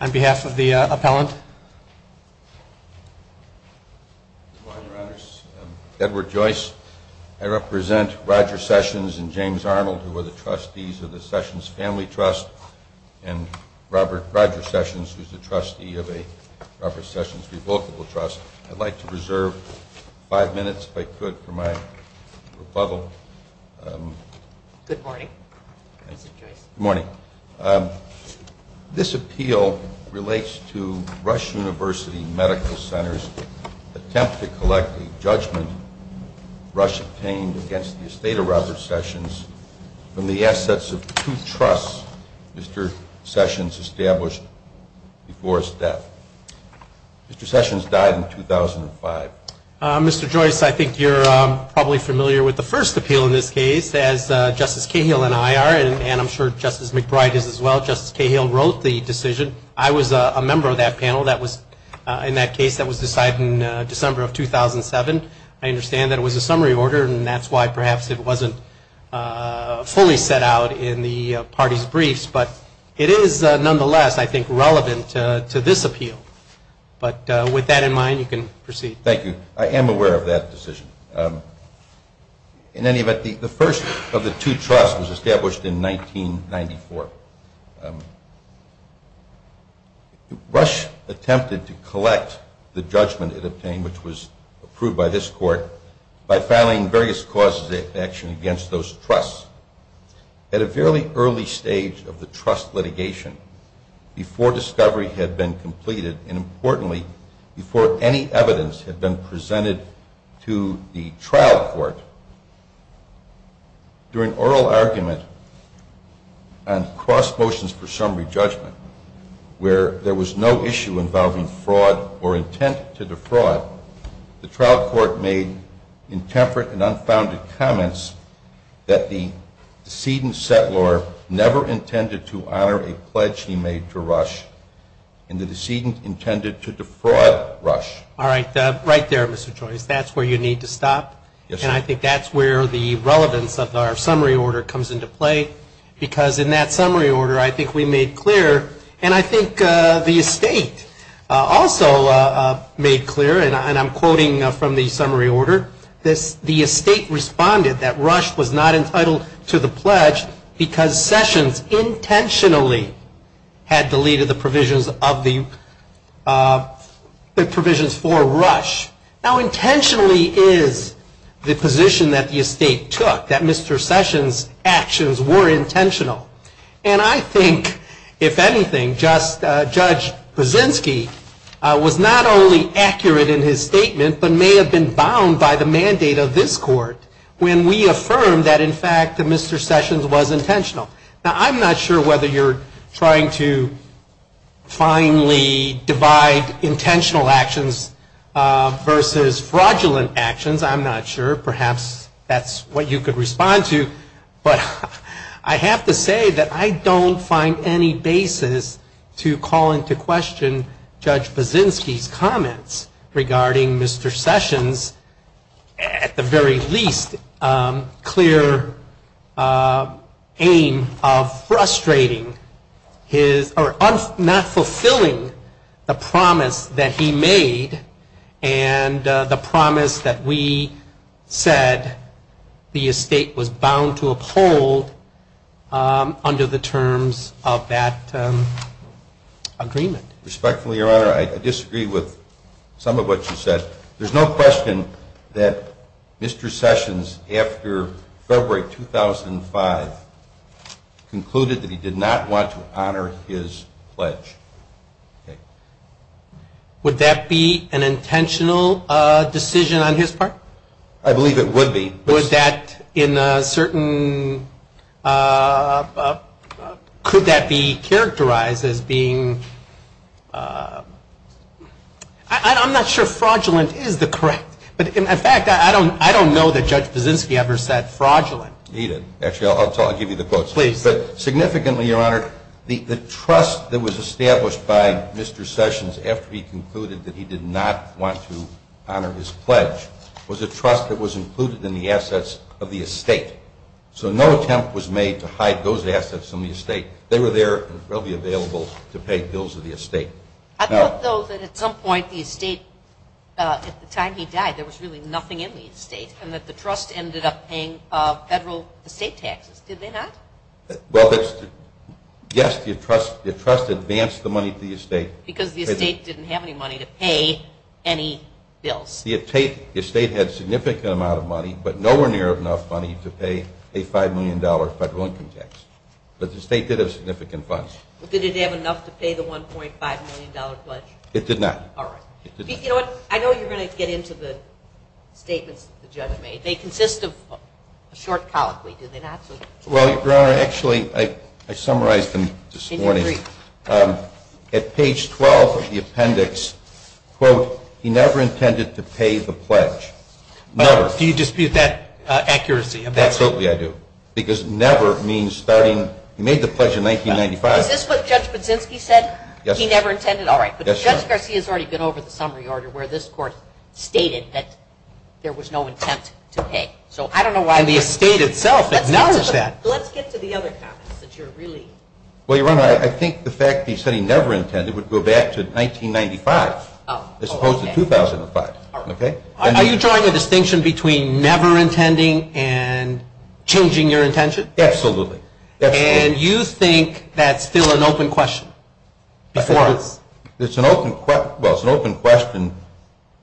on behalf of the appellant Edward Joyce I represent Roger Sessions and James Arnold who are the trustees of the Sessions Family Trust and Robert Roger Sessions who's the trustee of a Robert Sessions Revocable Trust. I'd like to reserve five minutes if I could for my rebuttal. Good morning, Mr. Joyce. Good morning. This appeal relates to Rush University Medical Center's attempt to collect a judgment Rush obtained against the Estate of Robert Sessions from the assets of two trusts Mr. Sessions established before his death. Mr. Sessions died in 2005. Mr. Joyce, I think you're probably familiar with the first appeal in this case as Justice Cahill and I are and I'm sure Justice McBride is as well. Justice Cahill wrote the decision. I was a member of that panel that was in that case that was decided in December of 2007. I understand that it was a summary order and that's why perhaps it wasn't fully set out in the party's briefs but it is nonetheless I think relevant to this appeal. But with that in mind you can proceed. Thank you. I am aware of that decision. In any event, the first of the two trusts was established in 1994. Rush attempted to collect the judgment it obtained which was approved by this court by filing various causes of action against those trusts. At a fairly early stage of the trust litigation, before discovery had been completed, and importantly before any evidence had been presented to the trial court, during oral argument on cross motions for summary judgment where there was no issue involving fraud or intent to defraud, the trial court made intemperate and unfounded comments that the judgment had not been completed. The decedent settlor never intended to honor a pledge he made to Rush and the decedent intended to defraud Rush. All right. Right there, Mr. Joyce. That's where you need to stop. And I think that's where the relevance of our summary order comes into play because in that summary order I think we made clear and I think the estate also made clear and I'm quoting from the summary order, the estate responded that Rush was not entitled to the pledge because Sessions intentionally had deleted the provisions of the Now intentionally is the position that the estate took, that Mr. Sessions' actions were intentional. And I think, if anything, Judge Buszynski was not only accurate in his statement but may have been bound by the mandate of this court when we affirmed that in fact Mr. Sessions was intentional. Now, I'm not sure whether you're trying to finally divide intentional actions versus fraudulent actions. I'm not sure. Perhaps that's what you could respond to. But I have to say that I don't find any basis to call into question Judge Buszynski's comments regarding Mr. Sessions' at the very least clear aim of his argument. And I don't find any basis to call into question Judge Buszynski's comments regarding Mr. Sessions' at the very least clear aim of frustrating his, or not fulfilling the promise that he made and the promise that we said the estate was bound to uphold under the terms of that agreement. Respectfully, Your Honor, I disagree with some of what you said. There's no question that Mr. Sessions, after February 2005, concluded that he did not want to honor his pledge. Would that be an intentional decision on his part? I believe it would be. Would that in a certain – could that be characterized as being – I'm not sure fraudulent is the correct – in fact, I don't know that Judge Buszynski ever said fraudulent. He did. Actually, I'll give you the quotes. Please. But significantly, Your Honor, the trust that was established by Mr. Sessions after he concluded that he did not want to honor his pledge was a trust that was included in the assets of the estate. So no attempt was made to hide those assets from the estate. They were there and will be available to pay bills of the estate. I thought, though, that at some point the estate – at the time he died there was really nothing in the estate and that the trust ended up paying federal estate taxes. Did they not? Well, yes, the trust advanced the money to the estate. Because the estate didn't have any money to pay any bills. The estate had a significant amount of money, but nowhere near enough money to pay a $5 million federal income tax. But the estate did have significant funds. Did it have enough to pay the $1.5 million pledge? It did not. All right. You know what? I know you're going to get into the statements that the judge made. They consist of a short colloquy, do they not? Well, Your Honor, actually I summarized them this morning. And you agree? At page 12 of the appendix, quote, he never intended to pay the pledge. Never. Do you dispute that accuracy of that statement? Absolutely I do. Because never means starting – he made the pledge in 1995. Is this what Judge Budzinski said? Yes. He never intended – all right. Yes, Your Honor. But Judge Garcia has already been over the summary order where this Court stated that there was no intent to pay. So I don't know why – And the estate itself acknowledges that. Let's get to the other comments that you're really – Well, Your Honor, I think the fact that he said he never intended would go back to 1995 as opposed to 2005. All right. Are you drawing a distinction between never intending and changing your intention? Absolutely. And you think that's still an open question? It's an open – well, it's an open question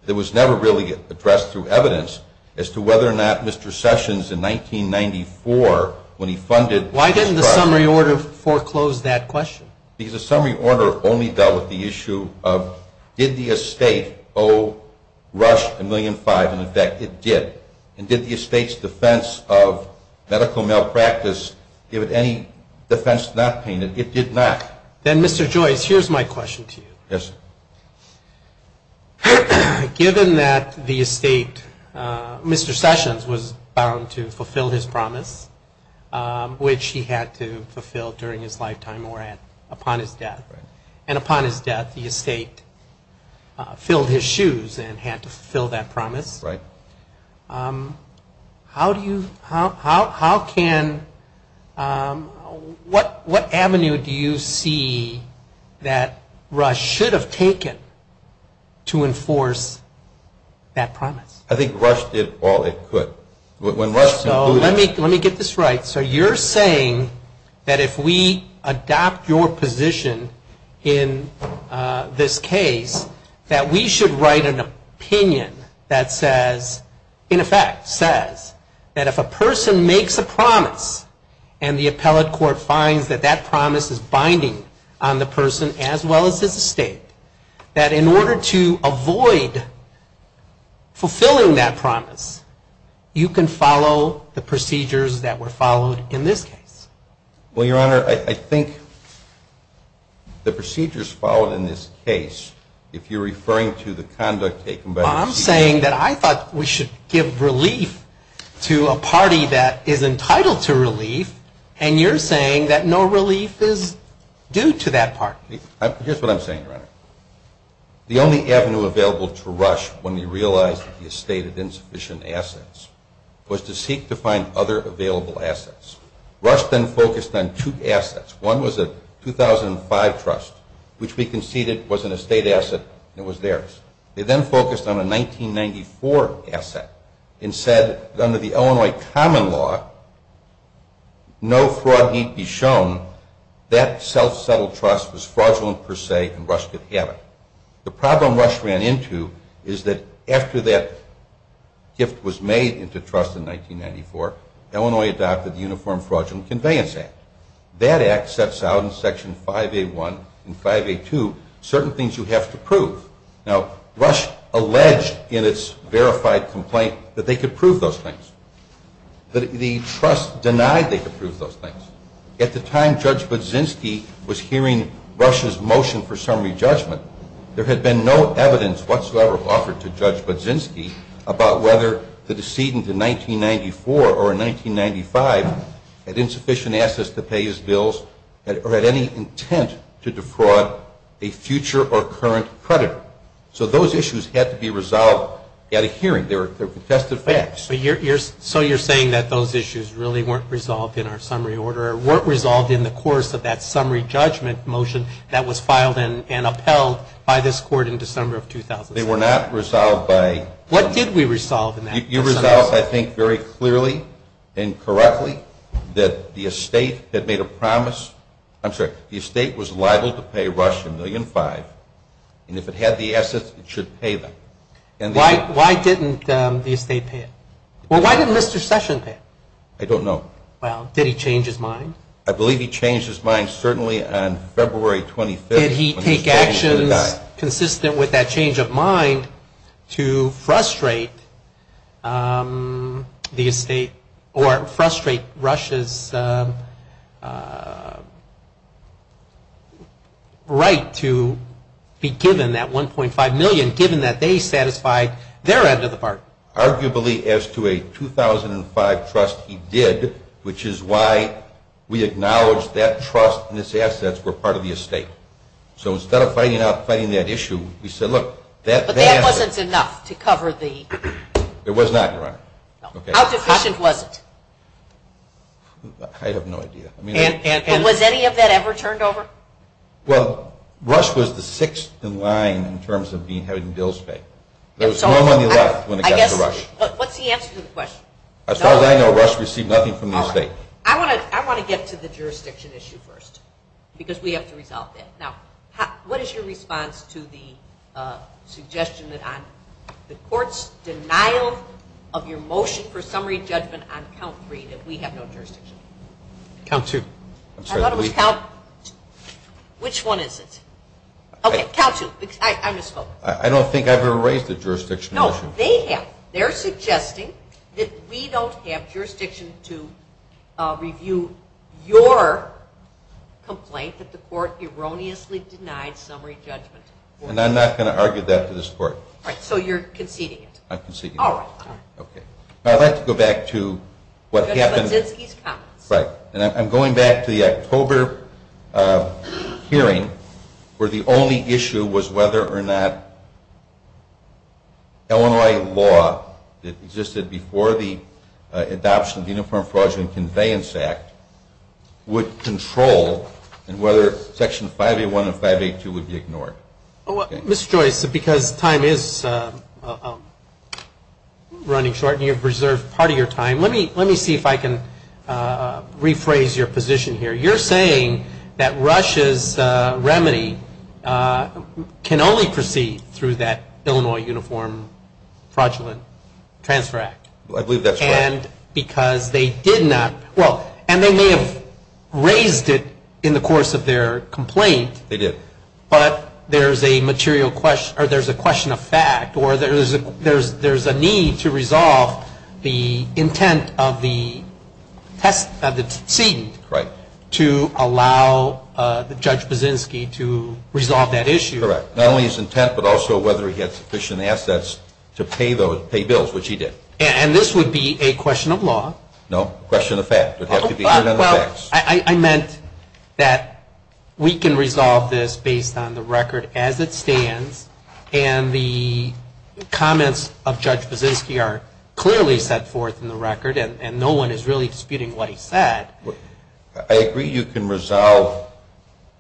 that was never really addressed through evidence as to whether or not Mr. Sessions in 1994 when he funded – Why didn't the summary order foreclose that question? Because the summary order only dealt with the issue of did the estate owe Rush $1.5 million? And, in fact, it did. And did the estate's defense of medical malpractice give it any defense not paying it? It did not. Then, Mr. Joyce, here's my question to you. Yes, sir. Given that the estate – Mr. Sessions was bound to fulfill his promise, which he had to fulfill during his lifetime or upon his death. And upon his death, the estate filled his shoes and had to fulfill that promise. Right. How do you – how can – what avenue do you see that Rush should have taken to enforce that promise? I think Rush did all it could. So let me get this right. So you're saying that if we adopt your position in this case, that we should write an opinion that says – in effect, says – that if a person makes a promise and the appellate court finds that that promise is binding on the person as well as his estate, that in order to avoid fulfilling that promise, you can follow the procedures that were followed in this case? Well, Your Honor, I think the procedures followed in this case, if you're referring to the conduct taken by the – I'm saying that I thought we should give relief to a party that is entitled to relief, and you're saying that no relief is due to that party. Here's what I'm saying, Your Honor. The only avenue available to Rush when he realized that the estate had insufficient assets was to seek to find other available assets. Rush then focused on two assets. One was a 2005 trust, which we conceded was an estate asset and it was theirs. They then focused on a 1994 asset and said that under the Illinois common law, no fraud need be shown. That self-settled trust was fraudulent per se and Rush could have it. The problem Rush ran into is that after that gift was made into trust in 1994, Illinois adopted the Uniform Fraudulent Conveyance Act. That act sets out in Section 5A1 and 5A2 certain things you have to prove. Now, Rush alleged in its verified complaint that they could prove those things. The trust denied they could prove those things. At the time Judge Budzinski was hearing Rush's motion for summary judgment, there had been no evidence whatsoever offered to Judge Budzinski about whether the decedent in 1994 or in 1995 had insufficient assets to pay his bills or had any intent to defraud a future or current creditor. So those issues had to be resolved at a hearing. They were contested facts. So you're saying that those issues really weren't resolved in our summary order or weren't resolved in the course of that summary judgment motion that was filed and upheld by this Court in December of 2007. What did we resolve in that case? You resolved, I think, very clearly and correctly that the estate had made a promise. I'm sorry. The estate was liable to pay Rush $1.5 million. And if it had the assets, it should pay them. Why didn't the estate pay it? Well, why didn't Mr. Session pay it? I don't know. Well, did he change his mind? I believe he changed his mind certainly on February 25th. Did he take actions consistent with that change of mind to frustrate the estate or frustrate Rush's right to be given that $1.5 million, given that they satisfied their end of the bargain? Arguably, as to a 2005 trust, he did, which is why we acknowledge that trust and its assets were part of the estate. So instead of fighting that issue, we said, look, that asset. But that wasn't enough to cover the... It was not, Your Honor. How deficient was it? I have no idea. Was any of that ever turned over? Well, Rush was the sixth in line in terms of having bills paid. There was no money left when it got to Rush. What's the answer to the question? As far as I know, Rush received nothing from the estate. All right. I want to get to the jurisdiction issue first because we have to resolve that. Now, what is your response to the suggestion that on the court's denial of your motion for summary judgment on count three that we have no jurisdiction? Count two. I thought it was count... Which one is it? Okay, count two because I misspoke. I don't think I've ever raised a jurisdiction issue. No, they have. They're suggesting that we don't have jurisdiction to review your complaint that the court erroneously denied summary judgment. And I'm not going to argue that to this court. Right, so you're conceding it. I'm conceding it. All right. Okay. Now, I'd like to go back to what happened... Judge Budzinski's comments. Right. And I'm going back to the October hearing where the only issue was whether or not Illinois law that existed before the adoption of the Uniform Fraud and Conveyance Act would control and whether Section 5A1 and 5A2 would be ignored. Mr. Joyce, because time is running short and you've reserved part of your time, let me see if I can rephrase your position here. You're saying that Russia's remedy can only proceed through that Illinois Uniform Fraudulent Transfer Act. I believe that's correct. And because they did not... Well, and they may have raised it in the course of their complaint. They did. But there's a question of fact, or there's a need to resolve the intent of the seat... Right. ...to allow Judge Budzinski to resolve that issue. Correct. Not only his intent, but also whether he had sufficient assets to pay bills, which he did. And this would be a question of law. No, a question of fact. Well, I meant that we can resolve this based on the record as it stands, and the comments of Judge Budzinski are clearly set forth in the record, and no one is really disputing what he said. I agree you can resolve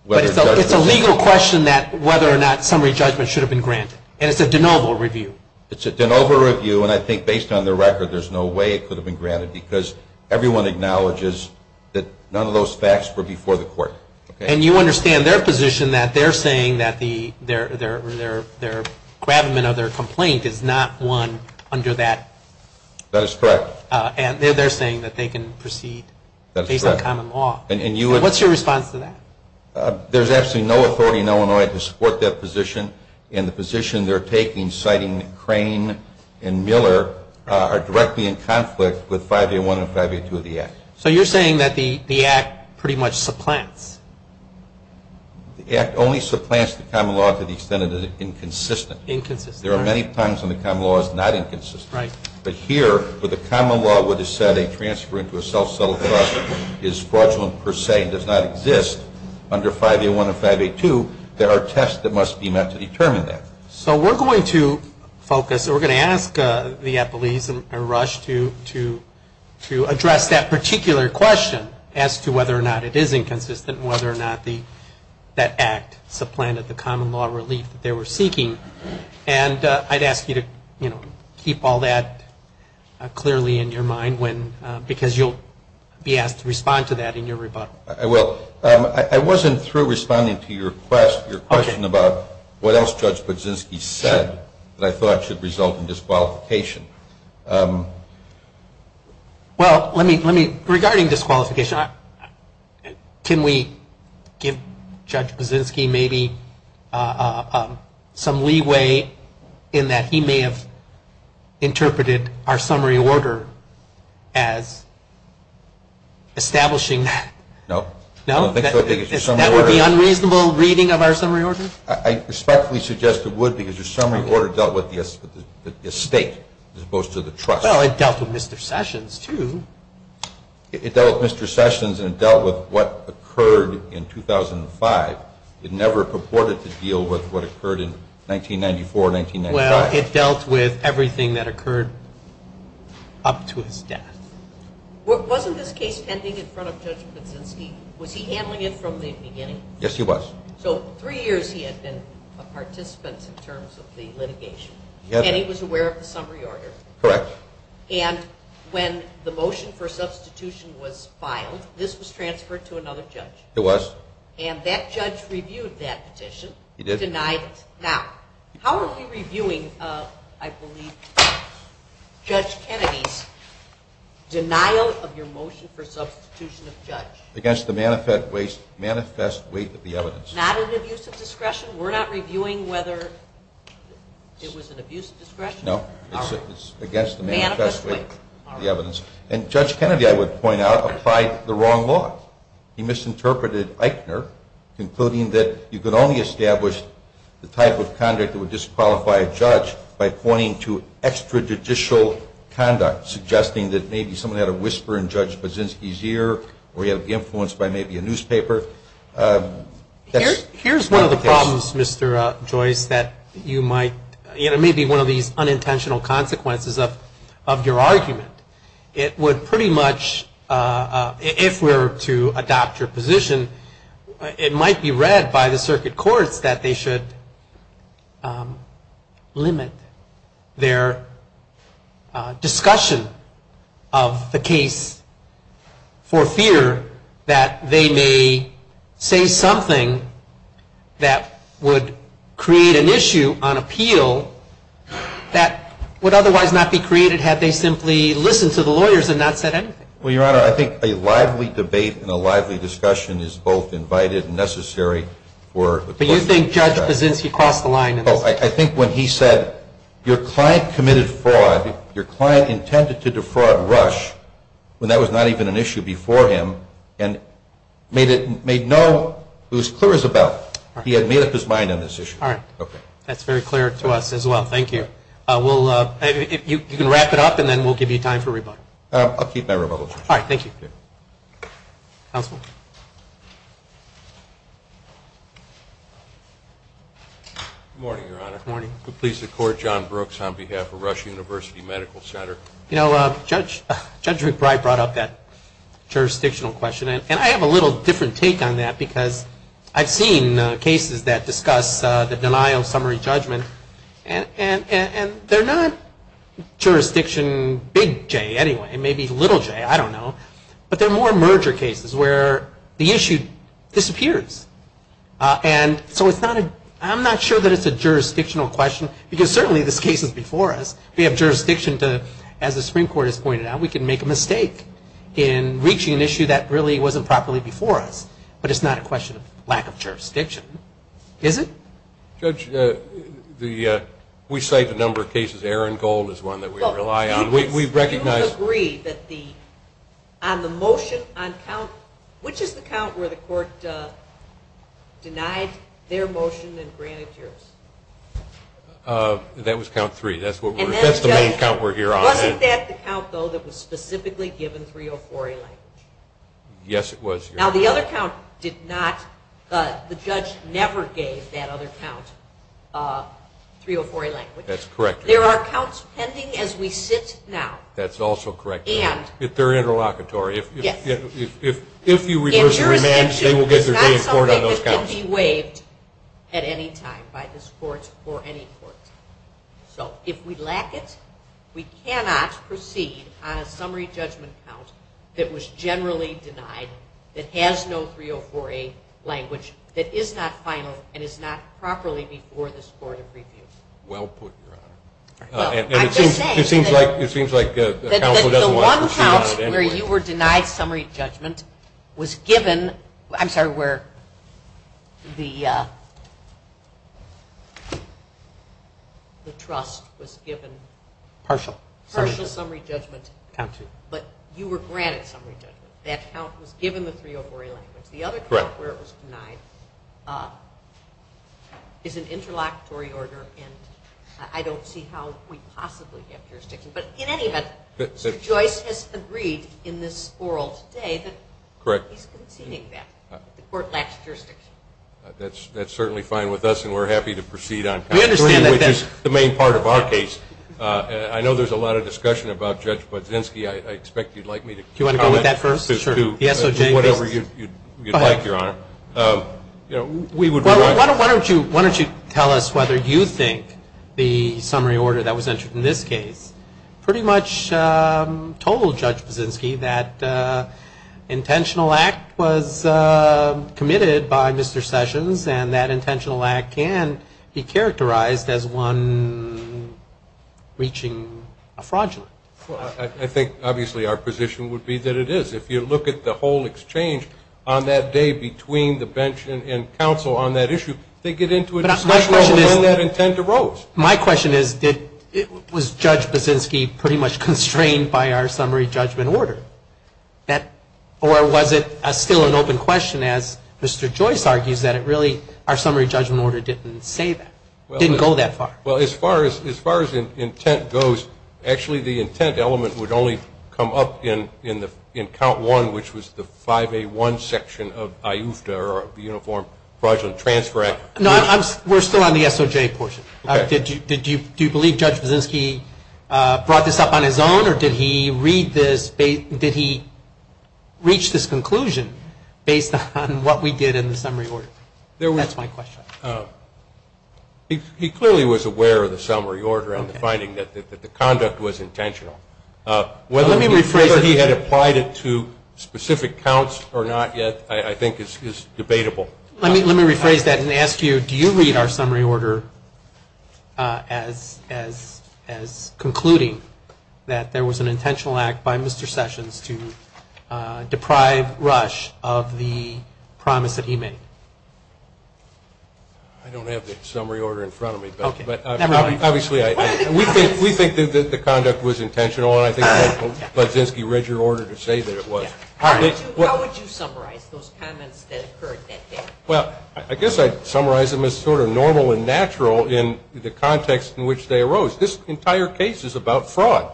whether... But it's a legal question that whether or not summary judgment should have been granted, and it's a de novo review. It's a de novo review, and I think based on the record there's no way it could have been granted because everyone acknowledges that none of those facts were before the court. And you understand their position that they're saying that their gravamen of their complaint is not one under that? That is correct. And they're saying that they can proceed based on common law. And you would... What's your response to that? There's absolutely no authority in Illinois to support that position, and the position they're taking, citing Crane and Miller, are directly in conflict with 5A1 and 5A2 of the Act. So you're saying that the Act pretty much supplants? The Act only supplants the common law to the extent that it is inconsistent. Inconsistent. There are many times when the common law is not inconsistent. Right. But here, where the common law would have said a transfer into a self-settled process is fraudulent per se and does not exist under 5A1 and 5A2, there are tests that must be met to determine that. So we're going to focus, or we're going to ask the appellees in a rush to address that particular question as to whether or not it is inconsistent and whether or not that Act supplanted the common law relief that they were seeking. And I'd ask you to keep all that clearly in your mind, because you'll be asked to respond to that in your rebuttal. I will. I wasn't through responding to your question about what else Judge Baczynski said that I thought should result in disqualification. Well, let me, regarding disqualification, can we give Judge Baczynski maybe some leeway in that he may have interpreted our summary order as establishing that? No. No? I don't think so. That would be unreasonable reading of our summary order? I respectfully suggest it would, because your summary order dealt with the estate as opposed to the trust. Well, it dealt with Mr. Sessions, too. It dealt with Mr. Sessions, and it dealt with what occurred in 2005. It never purported to deal with what occurred in 1994, 1995. Well, it dealt with everything that occurred up to his death. Wasn't this case pending in front of Judge Baczynski? Was he handling it from the beginning? Yes, he was. So three years he had been a participant in terms of the litigation, and he was aware of the summary order? Correct. And when the motion for substitution was filed, this was transferred to another judge? It was. And that judge reviewed that petition? He did. Denied it. Now, how are we reviewing, I believe, Judge Kennedy's denial of your motion for substitution of judge? Against the manifest weight of the evidence. Not an abuse of discretion? We're not reviewing whether it was an abuse of discretion? No, it's against the manifest weight of the evidence. And Judge Kennedy, I would point out, applied the wrong law. He misinterpreted Eichner, concluding that you could only establish the type of conduct that would disqualify a judge by pointing to extrajudicial conduct, suggesting that maybe someone had a whisper in Judge Baczynski's ear or he had to be influenced by maybe a newspaper. Here's one of the problems, Mr. Joyce, that you might, you know, it may be one of these unintentional consequences of your argument. It would pretty much, if we were to adopt your position, it might be read by the circuit courts that they should limit their discussion of the case for fear that they may say something that would create an issue on appeal that would otherwise not be created had they simply listened to the lawyers and not said anything. Well, Your Honor, I think a lively debate and a lively discussion is both invited and necessary for the question to be asked. But you think Judge Baczynski crossed the line in this? I think when he said, your client committed fraud, your client intended to defraud Rush, when that was not even an issue before him, and made no, it was clear as a bell. He had made up his mind on this issue. All right. Okay. That's very clear to us as well. Thank you. You can wrap it up, and then we'll give you time for rebuttal. I'll keep my rebuttal. All right. Thank you. Counsel. Good morning, Your Honor. Good morning. Please support John Brooks on behalf of Rush University Medical Center. You know, Judge McBride brought up that jurisdictional question, and I have a little different take on that because I've seen cases that discuss the denial of summary judgment, and they're not jurisdiction big J anyway, maybe little J, I don't know, but they're more merger cases where the issue disappears. And so I'm not sure that it's a jurisdictional question because certainly this case is before us. We have jurisdiction to, as the Supreme Court has pointed out, we can make a mistake in reaching an issue that really wasn't properly before us, but it's not a question of lack of jurisdiction, is it? Judge, we cite a number of cases. Aaron Gold is one that we rely on. You agree that the motion on count, which is the count where the court denied their motion and granted yours? That was count three. That's the main count we're here on. Wasn't that the count, though, that was specifically given 304A language? Yes, it was, Your Honor. Now the other count did not, the judge never gave that other count 304A language. That's correct, Your Honor. There are counts pending as we sit now. That's also correct, Your Honor. They're interlocutory. Yes. If you reverse the remand, they will get their day in court on those counts. And jurisdiction is not something that can be waived at any time by this court or any court. So if we lack it, we cannot proceed on a summary judgment count that was generally denied, that has no 304A language, that is not final and is not properly before this court of review. Well put, Your Honor. I'm just saying that the one count where you were denied summary judgment was given, I'm sorry, where the trust was given. Partial. Partial summary judgment. Count two. But you were granted summary judgment. That count was given the 304A language. The other count where it was denied is an interlocutory order, and I don't see how we possibly have jurisdiction. But in any event, Mr. Joyce has agreed in this oral today that he's conceding that the court lacks jurisdiction. That's certainly fine with us, and we're happy to proceed on count three, which is the main part of our case. I know there's a lot of discussion about Judge Budzinski. I expect you'd like me to comment. Do you want to go with that first? Sure. Whatever you'd like, Your Honor. Why don't you tell us whether you think the summary order that was entered in this case pretty much told Judge Budzinski that intentional act was committed by Mr. Sessions, and that intentional act can be characterized as one reaching a fraudulent. Well, I think obviously our position would be that it is. If you look at the whole exchange on that day between the bench and counsel on that issue, they get into a discussion about when that intent arose. My question is, was Judge Budzinski pretty much constrained by our summary judgment order? Or was it still an open question as Mr. Joyce argues that it really, our summary judgment order didn't say that, didn't go that far? Well, as far as intent goes, actually the intent element would only come up in count one, which was the 5A1 section of IUFTA or Uniform Fraudulent Transfer Act. No, we're still on the SOJ portion. Okay. Do you believe Judge Budzinski brought this up on his own, or did he read this, did he reach this conclusion based on what we did in the summary order? That's my question. He clearly was aware of the summary order and the finding that the conduct was intentional. Let me rephrase that. Whether he had applied it to specific counts or not yet I think is debatable. Let me rephrase that and ask you, do you read our summary order as concluding that there was an intentional act by Mr. Sessions to deprive Rush of the promise that he made? I don't have the summary order in front of me, but obviously we think that the conduct was intentional and I think Judge Budzinski read your order to say that it was. How would you summarize those comments that occurred that day? Well, I guess I'd summarize them as sort of normal and natural in the context in which they arose. This entire case is about fraud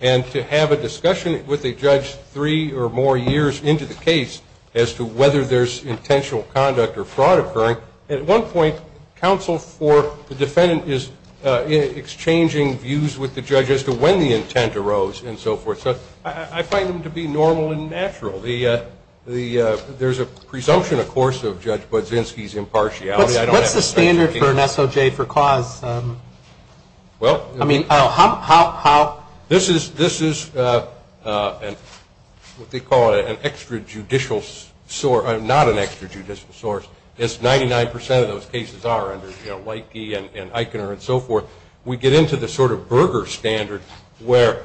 and to have a discussion with a judge three or more years into the case as to whether there's intentional conduct or fraud occurring, at one point counsel for the defendant is exchanging views with the judge as to when the intent arose and so forth. So I find them to be normal and natural. There's a presumption, of course, of Judge Budzinski's impartiality. What's the standard for an SOJ for cause? Well, this is what they call an extrajudicial source. It's not an extrajudicial source. It's 99% of those cases are under Lakey and Eichner and so forth. We get into the sort of Berger standard where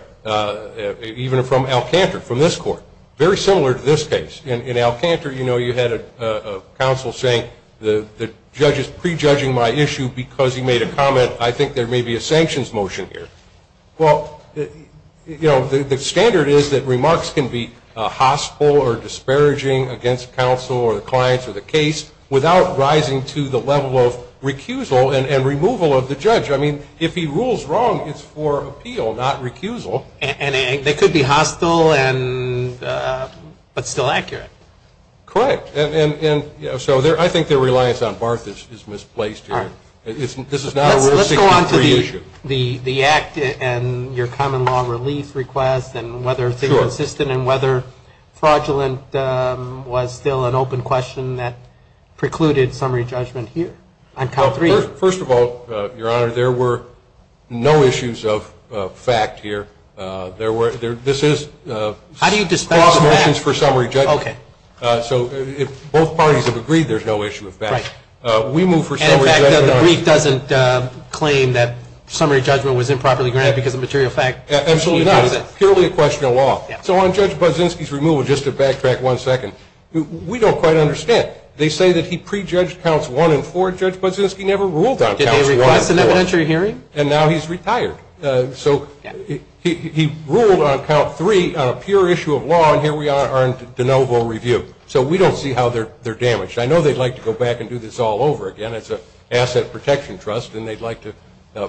even from Alcantara, from this court, very similar to this case. In Alcantara, you know, you had a counsel saying the judge is prejudging my issue because he made a comment. I think there may be a sanctions motion here. Well, you know, the standard is that remarks can be hostile or disparaging against counsel or the client or the case without rising to the level of recusal and removal of the judge. I mean, if he rules wrong, it's for appeal, not recusal. And they could be hostile but still accurate. Correct. And so I think their reliance on Barth is misplaced here. This is not a real 63 issue. Let's go on to the act and your common law relief request and whether things are consistent and whether fraudulent was still an open question that precluded summary judgment here on count three. First of all, Your Honor, there were no issues of fact here. This is cross motions for summary judgment. Okay. So both parties have agreed there's no issue of fact. Right. We move for summary judgment. And the brief doesn't claim that summary judgment was improperly granted because of material fact. Absolutely not. It's purely a question of law. So on Judge Bozinski's removal, just to backtrack one second, we don't quite understand. They say that he prejudged counts one and four. Judge Bozinski never ruled on counts one and four. Did he request an evidentiary hearing? And now he's retired. So he ruled on count three on a pure issue of law, and here we are in de novo review. So we don't see how they're damaged. I know they'd like to go back and do this all over again as an asset protection trust, and they'd like to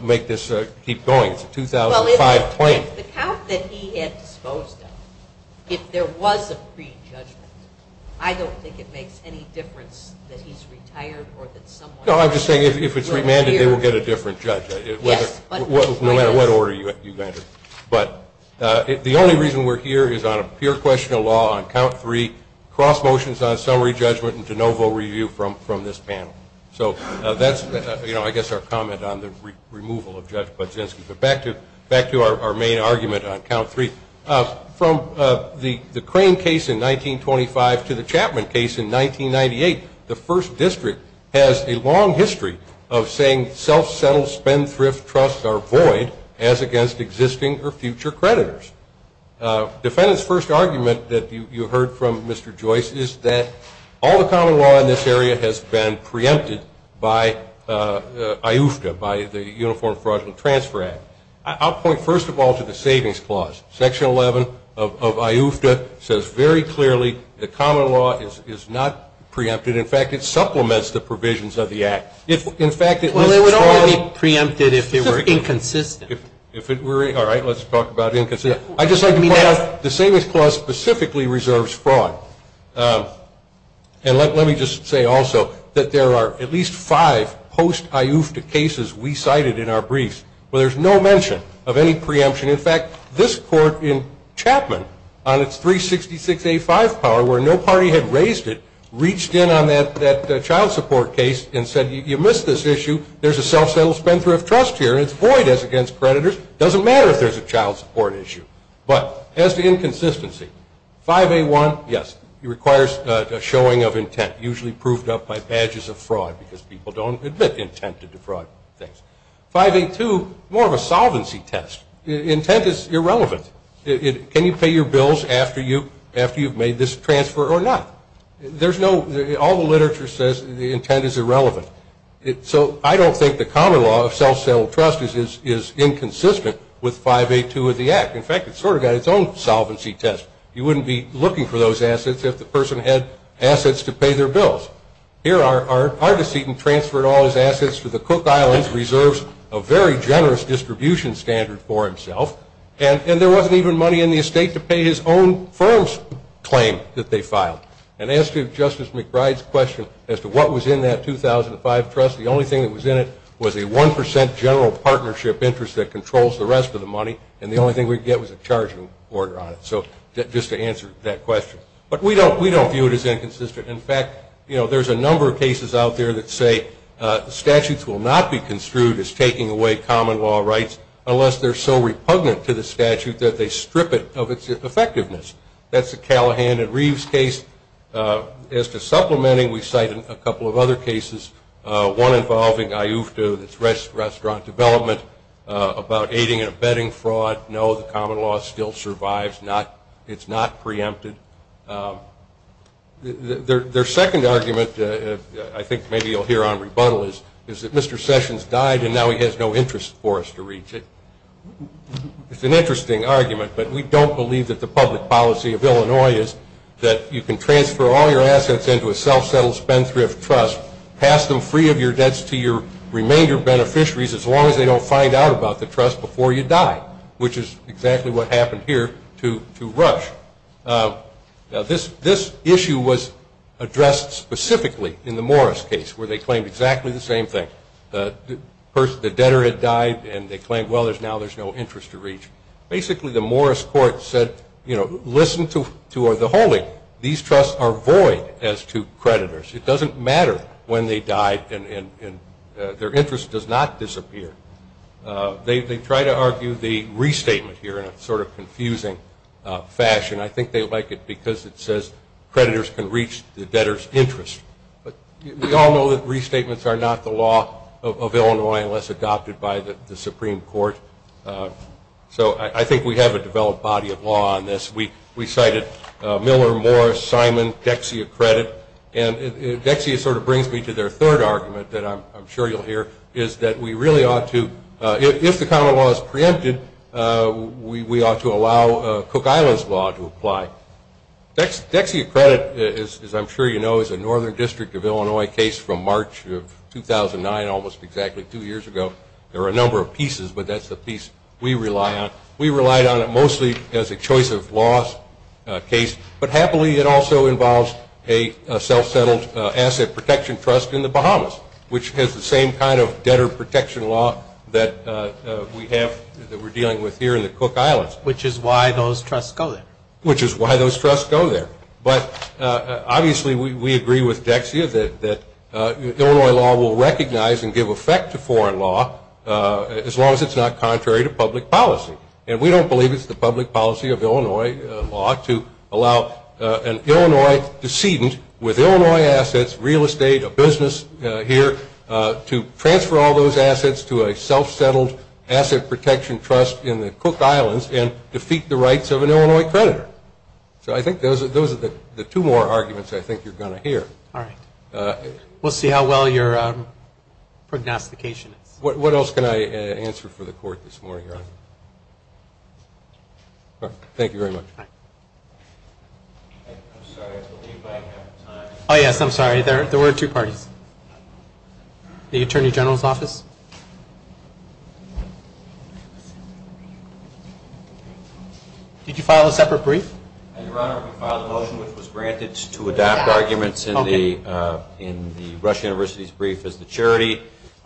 make this keep going. It's a 2005 claim. Well, if the count that he had disposed of, if there was a prejudgment, I don't think it makes any difference that he's retired or that someone else is. No, I'm just saying if it's remanded, they will get a different judge, no matter what order you enter. But the only reason we're here is on a pure question of law on count three, cross motions on summary judgment, and de novo review from this panel. So that's, you know, I guess our comment on the removal of Judge Bozinski. But back to our main argument on count three. From the Crane case in 1925 to the Chapman case in 1998, the First District has a long history of saying self-settled spendthrift trusts are void as against existing or future creditors. Defendant's first argument that you heard from Mr. Joyce is that all the common law in this area has been preempted by IOOFTA, by the Uniform Fraudulent Transfer Act. I'll point first of all to the Savings Clause. Section 11 of IOOFTA says very clearly the common law is not preempted. In fact, it supplements the provisions of the Act. In fact, it was fraud. Well, it would already be preempted if it were inconsistent. All right, let's talk about inconsistent. I'd just like to point out the Savings Clause specifically reserves fraud. And let me just say also that there are at least five post-IOOFTA cases we cited in our briefs where there's no mention of any preemption. In fact, this court in Chapman on its 366A5 power, where no party had raised it, reached in on that child support case and said, you missed this issue. There's a self-settled spendthrift trust here. It's void as against creditors. It doesn't matter if there's a child support issue. But as to inconsistency, 5A1, yes, it requires a showing of intent, usually proved up by badges of fraud because people don't admit intent to defraud things. 5A2, more of a solvency test. Intent is irrelevant. Can you pay your bills after you've made this transfer or not? There's no – all the literature says the intent is irrelevant. So I don't think the common law of self-settled trust is inconsistent with 5A2 of the Act. In fact, it's sort of got its own solvency test. You wouldn't be looking for those assets if the person had assets to pay their bills. Here, our decedent transferred all his assets to the Cook Islands, reserves a very generous distribution standard for himself, and there wasn't even money in the estate to pay his own firm's claim that they filed. And as to Justice McBride's question as to what was in that 2005 trust, the only thing that was in it was a 1% general partnership interest that controls the rest of the money, and the only thing we could get was a charging order on it. So just to answer that question. But we don't view it as inconsistent. In fact, you know, there's a number of cases out there that say statutes will not be construed as taking away common law rights unless they're so repugnant to the statute that they strip it of its effectiveness. That's the Callahan and Reeves case. As to supplementing, we cite a couple of other cases, one involving IUFTA that's restaurant development about aiding and abetting fraud. No, the common law still survives. It's not preempted. Their second argument, I think maybe you'll hear on rebuttal, is that Mr. Sessions died and now he has no interest for us to reach it. It's an interesting argument, but we don't believe that the public policy of Illinois is that you can transfer all your assets into a self-settled spendthrift trust, pass them free of your debts to your remainder beneficiaries as long as they don't find out about the trust before you die, which is exactly what happened here to Rush. Now, this issue was addressed specifically in the Morris case where they claimed exactly the same thing. The debtor had died and they claimed, well, now there's no interest to reach. Basically, the Morris court said, you know, listen to the holy. These trusts are void as to creditors. It doesn't matter when they died and their interest does not disappear. They try to argue the restatement here in a sort of confusing fashion. I think they like it because it says creditors can reach the debtor's interest. But we all know that restatements are not the law of Illinois unless adopted by the Supreme Court. So I think we have a developed body of law on this. We cited Miller, Morris, Simon, Dexia Credit. And Dexia sort of brings me to their third argument that I'm sure you'll hear, is that we really ought to, if the common law is preempted, we ought to allow Cook Island's law to apply. Dexia Credit, as I'm sure you know, is a Northern District of Illinois case from March of 2009, almost exactly two years ago. There are a number of pieces, but that's the piece we rely on. We relied on it mostly as a choice of laws case, but happily it also involves a self-settled asset protection trust in the Bahamas, which has the same kind of debtor protection law that we have, that we're dealing with here in the Cook Islands. Which is why those trusts go there. Which is why those trusts go there. But obviously we agree with Dexia that Illinois law will recognize and give effect to foreign law as long as it's not contrary to public policy. And we don't believe it's the public policy of Illinois law to allow an Illinois decedent with Illinois assets, real estate, a business here, to transfer all those assets to a self-settled asset protection trust in the Cook Islands and defeat the rights of an Illinois creditor. So I think those are the two more arguments I think you're going to hear. All right. We'll see how well your prognostication is. What else can I answer for the court this morning? Thank you very much. I'm sorry, I believe I have time. Oh, yes, I'm sorry. There were two parties. The Attorney General's Office. Did you file a separate brief? Your Honor, we filed a motion which was granted to adopt arguments in the Rush University's brief as the charity.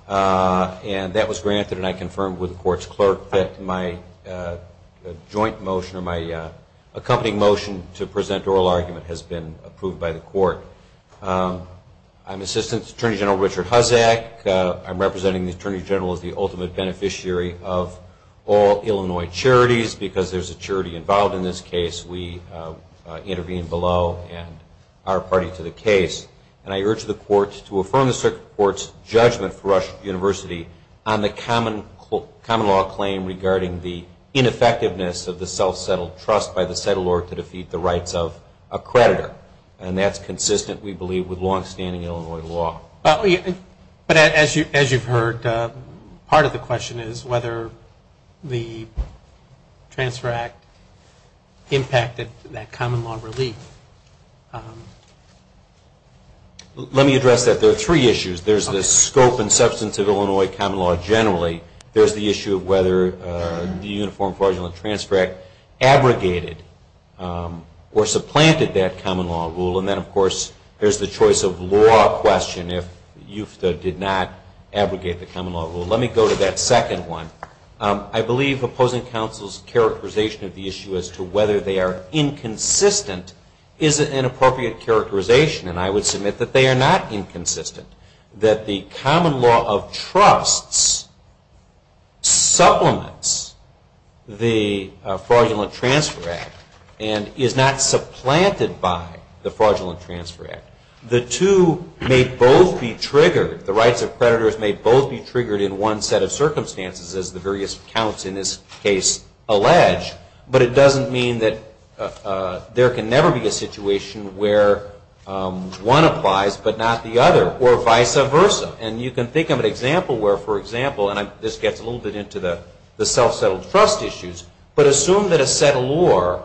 And that was granted, and I confirmed with the court's clerk that my joint motion or my accompanying motion to present oral argument has been approved by the court. I'm Assistant Attorney General Richard Huzzack. I'm representing the Attorney General as the ultimate beneficiary of all Illinois charities. Because there's a charity involved in this case, we intervene below and are party to the case. And I urge the court to affirm the circuit court's judgment for Rush University on the common law claim regarding the ineffectiveness of the self-settled trust by the settler to defeat the rights of a creditor. And that's consistent, we believe, with longstanding Illinois law. But as you've heard, part of the question is whether the Transfer Act impacted that common law relief. Let me address that. There are three issues. There's the scope and substance of Illinois common law generally. There's the issue of whether the Uniform Fraudulent Transfer Act abrogated or supplanted that common law rule. And then, of course, there's the choice of law question if UFTA did not abrogate the common law rule. Let me go to that second one. I believe opposing counsel's characterization of the issue as to whether they are inconsistent is an inappropriate characterization. And I would submit that they are not inconsistent. That the common law of trusts supplements the Fraudulent Transfer Act and is not supplanted by the Fraudulent Transfer Act. The two may both be triggered, the rights of creditors may both be triggered in one set of circumstances, as the various accounts in this case allege, but it doesn't mean that there can never be a situation where one applies but not the other or vice versa. And you can think of an example where, for example, and this gets a little bit into the self-settled trust issues, but assume that a settlor,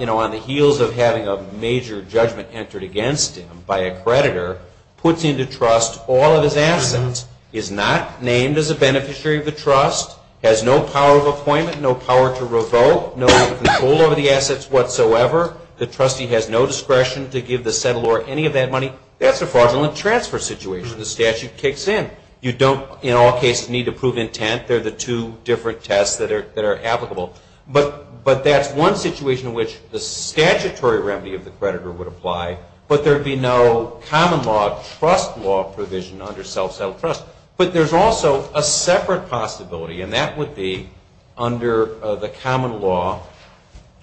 you know, on the heels of having a major judgment entered against him by a creditor, puts into trust all of his assets, is not named as a beneficiary of the trust, has no power of appointment, no power to revoke, no control over the assets whatsoever. The trustee has no discretion to give the settlor any of that money. That's a fraudulent transfer situation. The statute kicks in. You don't, in all cases, need to prove intent. They're the two different tests that are applicable. But that's one situation in which the statutory remedy of the creditor would apply, but there would be no common law trust law provision under self-settled trust. But there's also a separate possibility, and that would be under the common law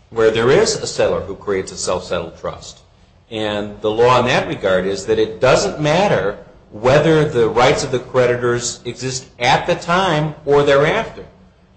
where there is a settlor who creates a self-settled trust. And the law in that regard is that it doesn't matter whether the rights of the creditors exist at the time or thereafter.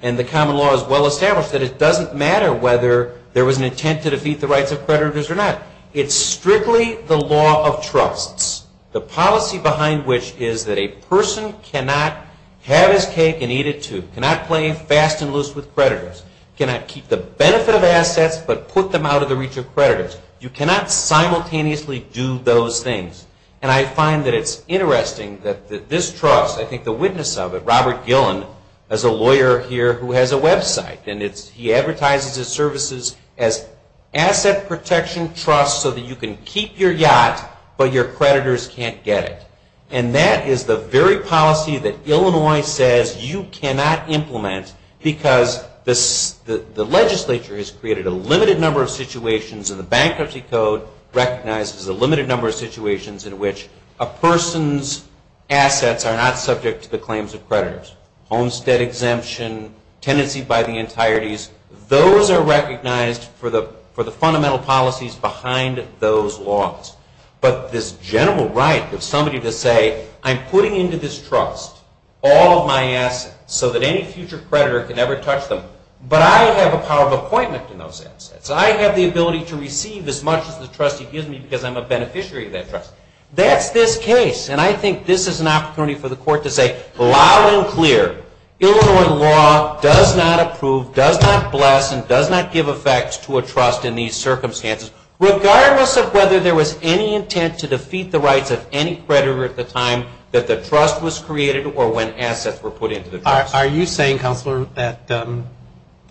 And the common law is well established that it doesn't matter whether there was an intent to defeat the rights of creditors or not. It's strictly the law of trusts, the policy behind which is that a person cannot have his cake and eat it, too. Cannot play fast and loose with creditors. Cannot keep the benefit of assets but put them out of the reach of creditors. You cannot simultaneously do those things. And I find that it's interesting that this trust, I think the witness of it, Robert Gillen, is a lawyer here who has a website. And he advertises his services as asset protection trusts so that you can keep your yacht but your creditors can't get it. And that is the very policy that Illinois says you cannot implement because the legislature has created a limited number of situations and the Bankruptcy Code recognizes a limited number of situations in which a person's assets are not subject to the claims of creditors. Homestead exemption, tenancy by the entireties, those are recognized for the fundamental policies behind those laws. But this general right of somebody to say, I'm putting into this trust all of my assets so that any future creditor can never touch them but I have a power of appointment in those assets. I have the ability to receive as much as the trustee gives me because I'm a beneficiary of that trust. That's this case. And I think this is an opportunity for the court to say loud and clear, Illinois law does not approve, does not bless, and does not give effect to a trust in these circumstances regardless of whether there was any intent to defeat the rights of any creditor at the time that the trust was created or when assets were put into the trust. Are you saying, Counselor, that the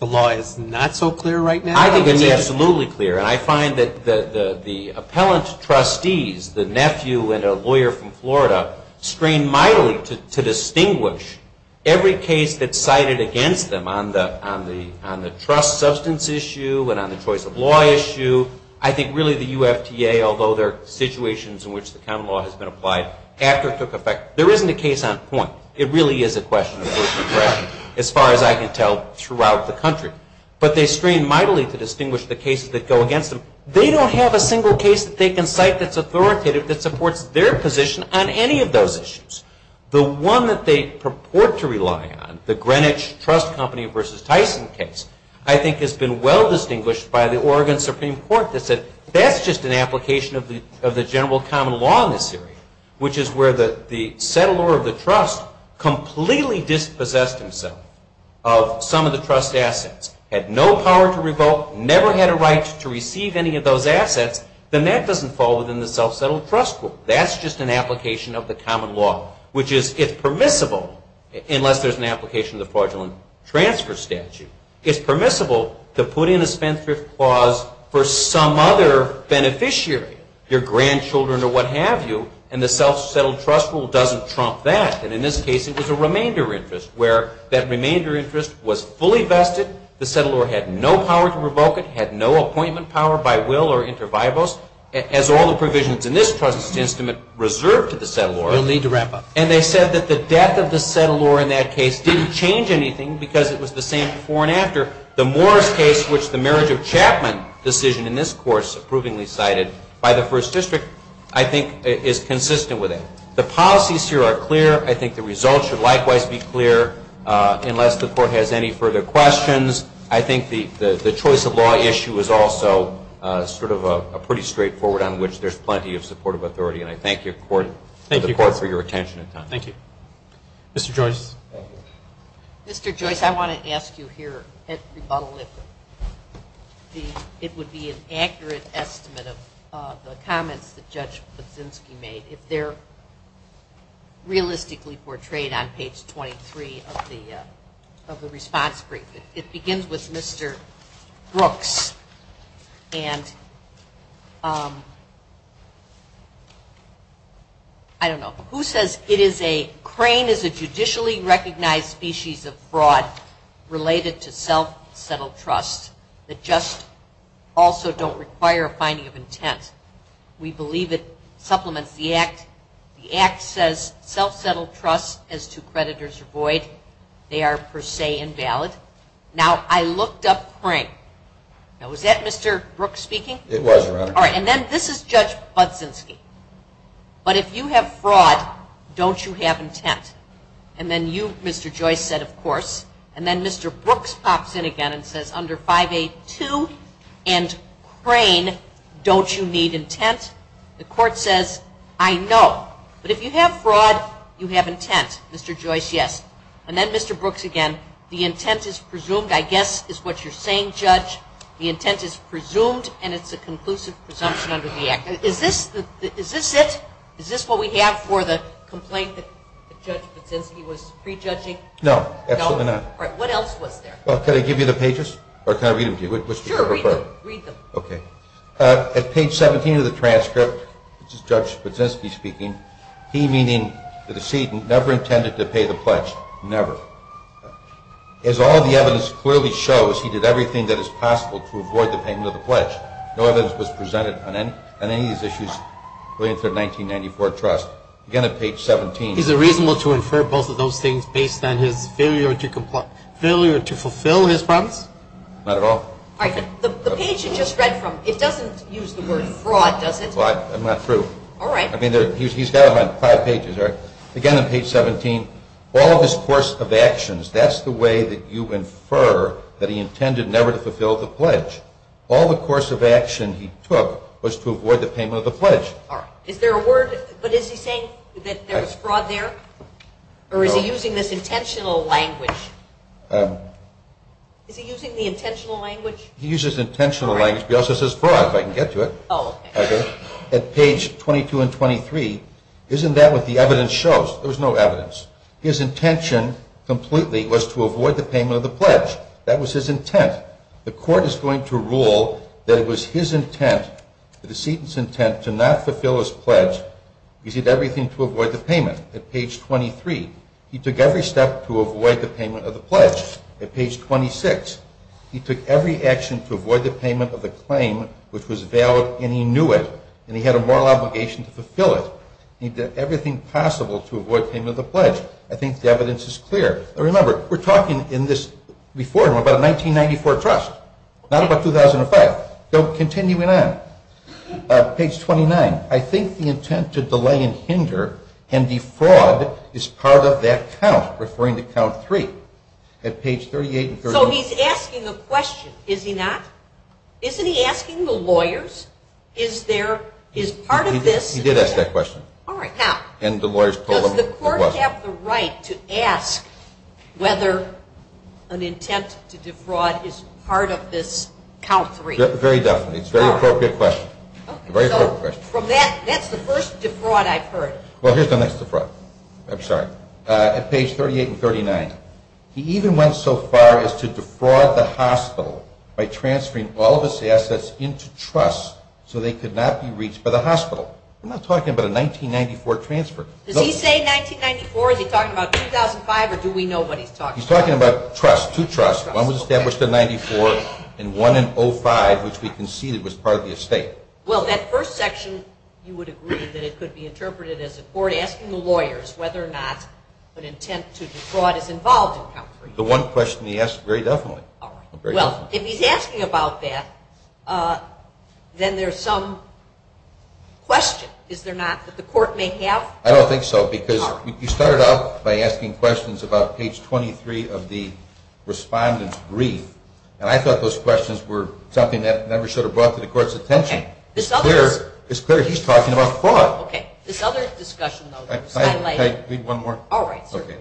law is not so clear right now? I think it's absolutely clear. And I find that the appellant trustees, the nephew and a lawyer from Florida, strain mightily to distinguish every case that's cited against them on the trust substance issue and on the choice of law issue. I think really the UFTA, although there are situations in which the common law has been applied after it took effect, there isn't a case on point. It really is a question of personal pressure as far as I can tell throughout the country. But they strain mightily to distinguish the cases that go against them. They don't have a single case that they can cite that's authoritative that supports their position on any of those issues. The one that they purport to rely on, the Greenwich Trust Company v. Tyson case, I think has been well distinguished by the Oregon Supreme Court that said that's just an application of the general common law in this area, which is where the settler of the trust completely dispossessed himself of some of the trust assets, had no power to revoke, never had a right to receive any of those assets, then that doesn't fall within the self-settled trust rule. That's just an application of the common law, which is, it's permissible, unless there's an application of the fraudulent transfer statute, it's permissible to put in a spendthrift clause for some other beneficiary, your grandchildren or what have you, and the self-settled trust rule doesn't trump that. And in this case, it was a remainder interest where that remainder interest was fully vested, the settler had no power to revoke it, had no appointment power by will or inter viabos, as all the provisions in this trust's instrument reserved to the settler. We'll need to wrap up. And they said that the death of the settler in that case didn't change anything because it was the same before and after the Morris case, which the marriage of Chapman decision in this course approvingly cited by the First District, I think is consistent with it. The policies here are clear. I think the results should likewise be clear, unless the court has any further questions. I think the choice of law issue is also sort of a pretty straightforward on which there's plenty of supportive authority, and I thank the court for your attention and time. Thank you. Mr. Joyce. Mr. Joyce, I want to ask you here at rebuttal if it would be an accurate estimate of the comments that Judge Kuczynski made if they're realistically portrayed on page 23 of the response brief. It begins with Mr. Brooks, and I don't know. Who says it is a crane is a judicially recognized species of fraud related to self-settled trust that just also don't require a finding of intent? We believe it supplements the act. The act says self-settled trust as to creditors are void. They are per se invalid. Now, I looked up crane. Now, was that Mr. Brooks speaking? It was, Your Honor. All right, and then this is Judge Kuczynski. But if you have fraud, don't you have intent? And then you, Mr. Joyce, said, of course. And then Mr. Brooks pops in again and says under 5A.2 and crane, don't you need intent? The court says, I know. But if you have fraud, you have intent. Mr. Joyce, yes. And then Mr. Brooks again, the intent is presumed. I guess is what you're saying, Judge. The intent is presumed, and it's a conclusive presumption under the act. Is this it? Is this what we have for the complaint that Judge Kuczynski was prejudging? No, absolutely not. All right, what else was there? Well, can I give you the pages? Or can I read them to you? Sure, read them. Okay. At page 17 of the transcript, this is Judge Kuczynski speaking. He, meaning the decedent, never intended to pay the pledge, never. As all the evidence clearly shows, he did everything that is possible to avoid the payment of the pledge. No evidence was presented on any of these issues related to the 1994 trust. Again, at page 17. Is it reasonable to infer both of those things based on his failure to fulfill his promise? Not at all. All right, the page you just read from, it doesn't use the word fraud, does it? I'm not through. All right. I mean, he's got it on five pages. Again, on page 17. All of his course of actions, that's the way that you infer that he intended never to fulfill the pledge. All the course of action he took was to avoid the payment of the pledge. All right. Is there a word, but is he saying that there was fraud there? Or is he using this intentional language? Is he using the intentional language? He uses intentional language, but he also says fraud, if I can get to it. Oh, okay. At page 22 and 23. Isn't that what the evidence shows? There was no evidence. His intention completely was to avoid the payment of the pledge. That was his intent. The court is going to rule that it was his intent, the decedent's intent, to not fulfill his pledge. He did everything to avoid the payment. At page 23. He took every step to avoid the payment of the pledge. At page 26. He took every action to avoid the payment of the claim, which was valid, and he knew it. And he had a moral obligation to fulfill it. He did everything possible to avoid payment of the pledge. I think the evidence is clear. Remember, we're talking in this before him about a 1994 trust, not about 2005. Continuing on. Page 29. I think the intent to delay and hinder and defraud is part of that count, referring to count 3. At page 38 and 38. So he's asking a question, is he not? Isn't he asking the lawyers, is part of this? He did ask that question. All right. Now, does the court have the right to ask whether an intent to defraud is part of this count 3? Very definitely. It's a very appropriate question. Okay. So from that, that's the first defraud I've heard. Well, here's the next defraud. I'm sorry. At page 38 and 39. He even went so far as to defraud the hospital by transferring all of his assets into trusts so they could not be reached by the hospital. We're not talking about a 1994 transfer. Does he say 1994? Is he talking about 2005, or do we know what he's talking about? He's talking about trusts, two trusts. One was established in 94 and one in 05, which we conceded was part of the estate. Well, that first section, you would agree that it could be interpreted as the court asking the lawyers whether or not an intent to defraud is involved in count 3. The one question he asked, very definitely. All right. Well, if he's asking about that, then there's some question, is there not, that the court may have? I don't think so because you started out by asking questions about page 23 of the respondent's brief, and I thought those questions were something that never should have brought to the court's attention. It's clear he's talking about fraud. Okay. This other discussion, though, that was highlighted. Can I read one more? All right. Okay.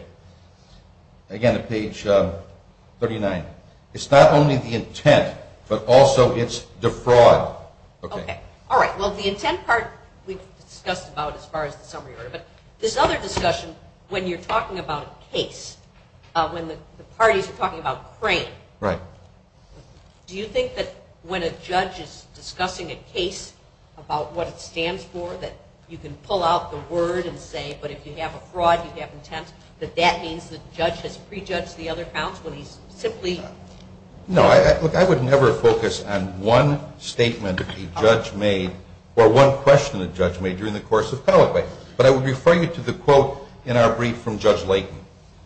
Again, at page 39. It's not only the intent, but also it's defraud. Okay. All right. Well, the intent part we've discussed about as far as the summary order, but this other discussion, when you're talking about a case, when the parties are talking about Crain, do you think that when a judge is discussing a case about what it stands for, that you can pull out the word and say, but if you have a fraud, you have intent, that that means the judge has prejudged the other counts when he's simply? No. Look, I would never focus on one statement a judge made or one question a judge made during the course of an appellate. But I would refer you to the quote in our brief from Judge Layton,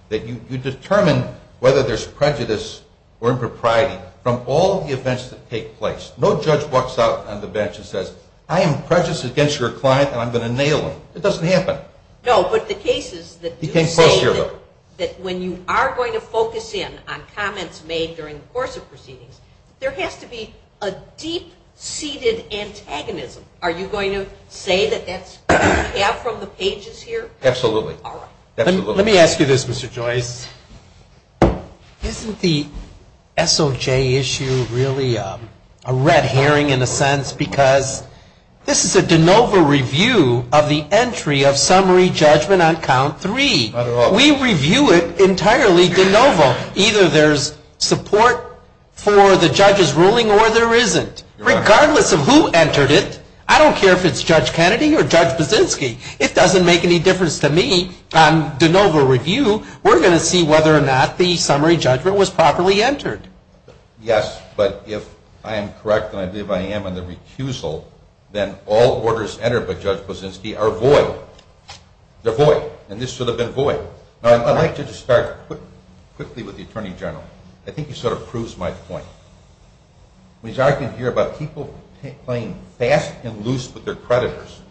that you determine whether there's prejudice or impropriety from all the events that take place. No judge walks out on the bench and says, I am prejudiced against your client, and I'm going to nail him. It doesn't happen. No, but the cases that you say that when you are going to focus in on comments made during the course of proceedings, there has to be a deep-seated antagonism. Are you going to say that that's what you have from the pages here? Absolutely. All right. Let me ask you this, Mr. Joyce. Isn't the SOJ issue really a red herring, in a sense, because this is a de novo review of the entry of summary judgment on count three. We review it entirely de novo. Either there's support for the judge's ruling or there isn't, regardless of who entered it. I don't care if it's Judge Kennedy or Judge Brzezinski. It doesn't make any difference to me. On de novo review, we're going to see whether or not the summary judgment was properly entered. Yes, but if I am correct, and I believe I am on the recusal, then all orders entered by Judge Brzezinski are void. They're void, and this should have been void. I'd like to just start quickly with the Attorney General. I think he sort of proves my point. He's arguing here about people playing fast and loose with their creditors.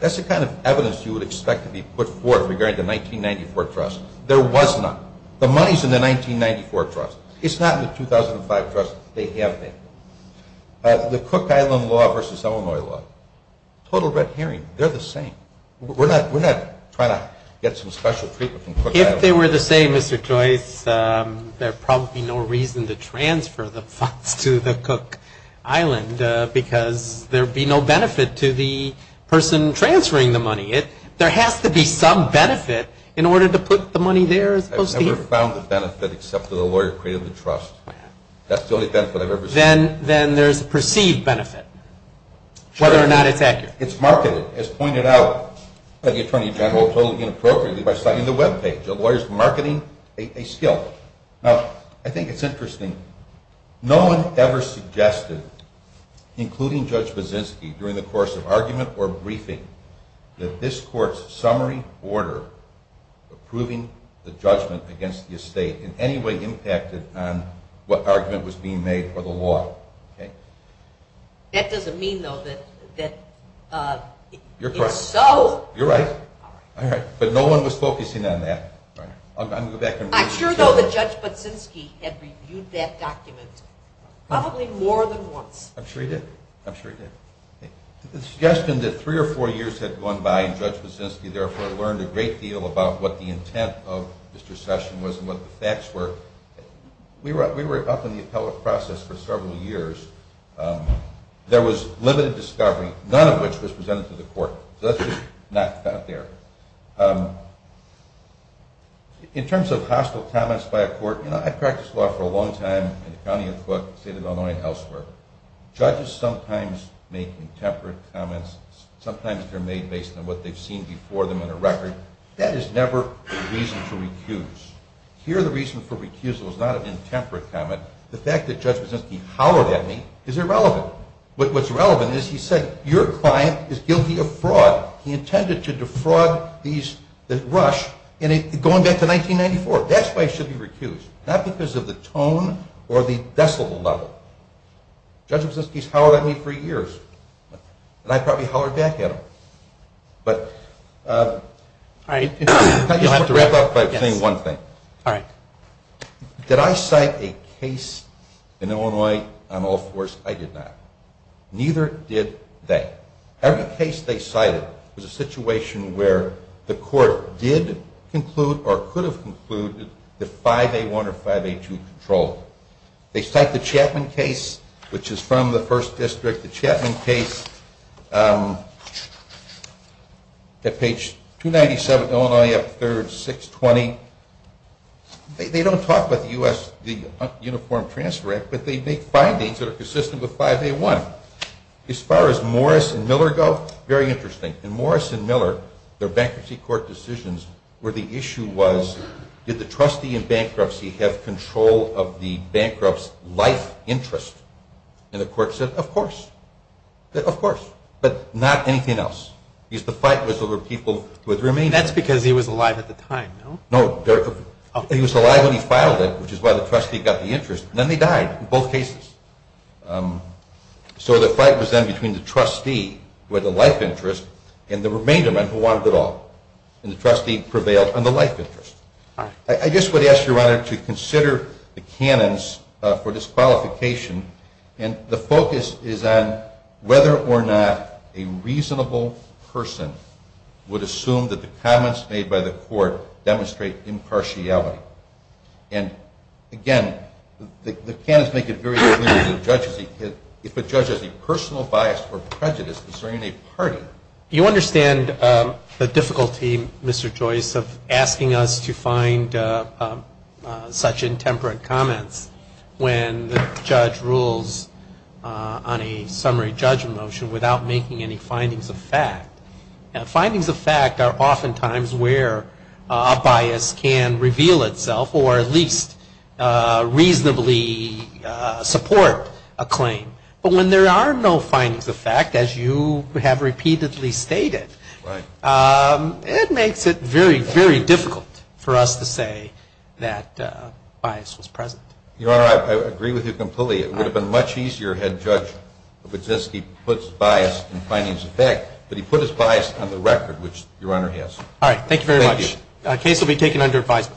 That's the kind of evidence you would expect to be put forth regarding the 1994 trust. There was none. The money's in the 1994 trust. It's not in the 2005 trust. They have that. The Cook Island law versus Illinois law, total red herring. They're the same. We're not trying to get some special treatment from Cook Island. If they were the same, Mr. Joyce, there would probably be no reason to transfer the funds to the Cook Island because there would be no benefit to the person transferring the money. There has to be some benefit in order to put the money there as opposed to here. I've never found the benefit except that a lawyer created the trust. That's the only benefit I've ever seen. Then there's a perceived benefit, whether or not it's accurate. It's marketed. As pointed out by the Attorney General, totally inappropriately by citing the webpage. A lawyer's marketing a skill. Now, I think it's interesting. No one ever suggested, including Judge Baczynski, during the course of argument or briefing, that this court's summary order approving the judgment against the estate in any way impacted on what argument was being made for the law. That doesn't mean, though, that it's so... You're correct. You're right. But no one was focusing on that. I'm sure, though, that Judge Baczynski had reviewed that document probably more than once. I'm sure he did. I'm sure he did. The suggestion that three or four years had gone by, and Judge Baczynski therefore learned a great deal about what the intent of Mr. Session was and what the facts were, we were up in the appellate process for several years. There was limited discovery, none of which was presented to the court. So that's just not there. In terms of hostile comments by a court, I've practiced law for a long time in the county of Cook, state of Illinois, and elsewhere. Judges sometimes make intemperate comments. Sometimes they're made based on what they've seen before them in a record. That is never the reason to recuse. Here the reason for recusal is not an intemperate comment. The fact that Judge Baczynski hollered at me is irrelevant. What's relevant is he said, Your client is guilty of fraud. He intended to defraud the Rush going back to 1994. That's why he should be recused. Not because of the tone or the decibel level. Judge Baczynski's hollered at me for years. And I probably hollered back at him. Can I just wrap up by saying one thing? Did I cite a case in Illinois on all fours? I did not. Neither did they. Every case they cited was a situation where the court did conclude or could have concluded that 5A1 or 5A2 controlled. They cite the Chapman case, which is from the First District. The Chapman case at page 297, Illinois, up third, 620. They don't talk about the Uniform Transfer Act, but they make findings that are consistent with 5A1. As far as Morris and Miller go, very interesting. In Morris and Miller, their bankruptcy court decisions, where the issue was, did the trustee in bankruptcy have control of the bankrupt's life interest? And the court said, of course. Of course. But not anything else. Because the fight was over people who had remained. That's because he was alive at the time, no? No. He was alive when he filed it, which is why the trustee got the interest. And then they died in both cases. So the fight was then between the trustee, who had the life interest, and the remainder men who wanted it all. And the trustee prevailed on the life interest. I just would ask, Your Honor, to consider the canons for disqualification. And the focus is on whether or not a reasonable person would assume that the comments made by the court demonstrate impartiality. And, again, the canons make it very clear that if a judge has a personal bias or prejudice concerning a party. You understand the difficulty, Mr. Joyce, of asking us to find such intemperate comments when the judge rules on a summary judgment motion without making any findings of fact. And findings of fact are oftentimes where a bias can reveal itself But when there are no findings of fact, as you have repeatedly stated, it makes it very, very difficult for us to say that bias was present. Your Honor, I agree with you completely. It would have been much easier had Judge Kuczynski put bias in findings of fact. But he put his bias on the record, which Your Honor has. All right. Thank you very much. Thank you. The case will be taken under advisory.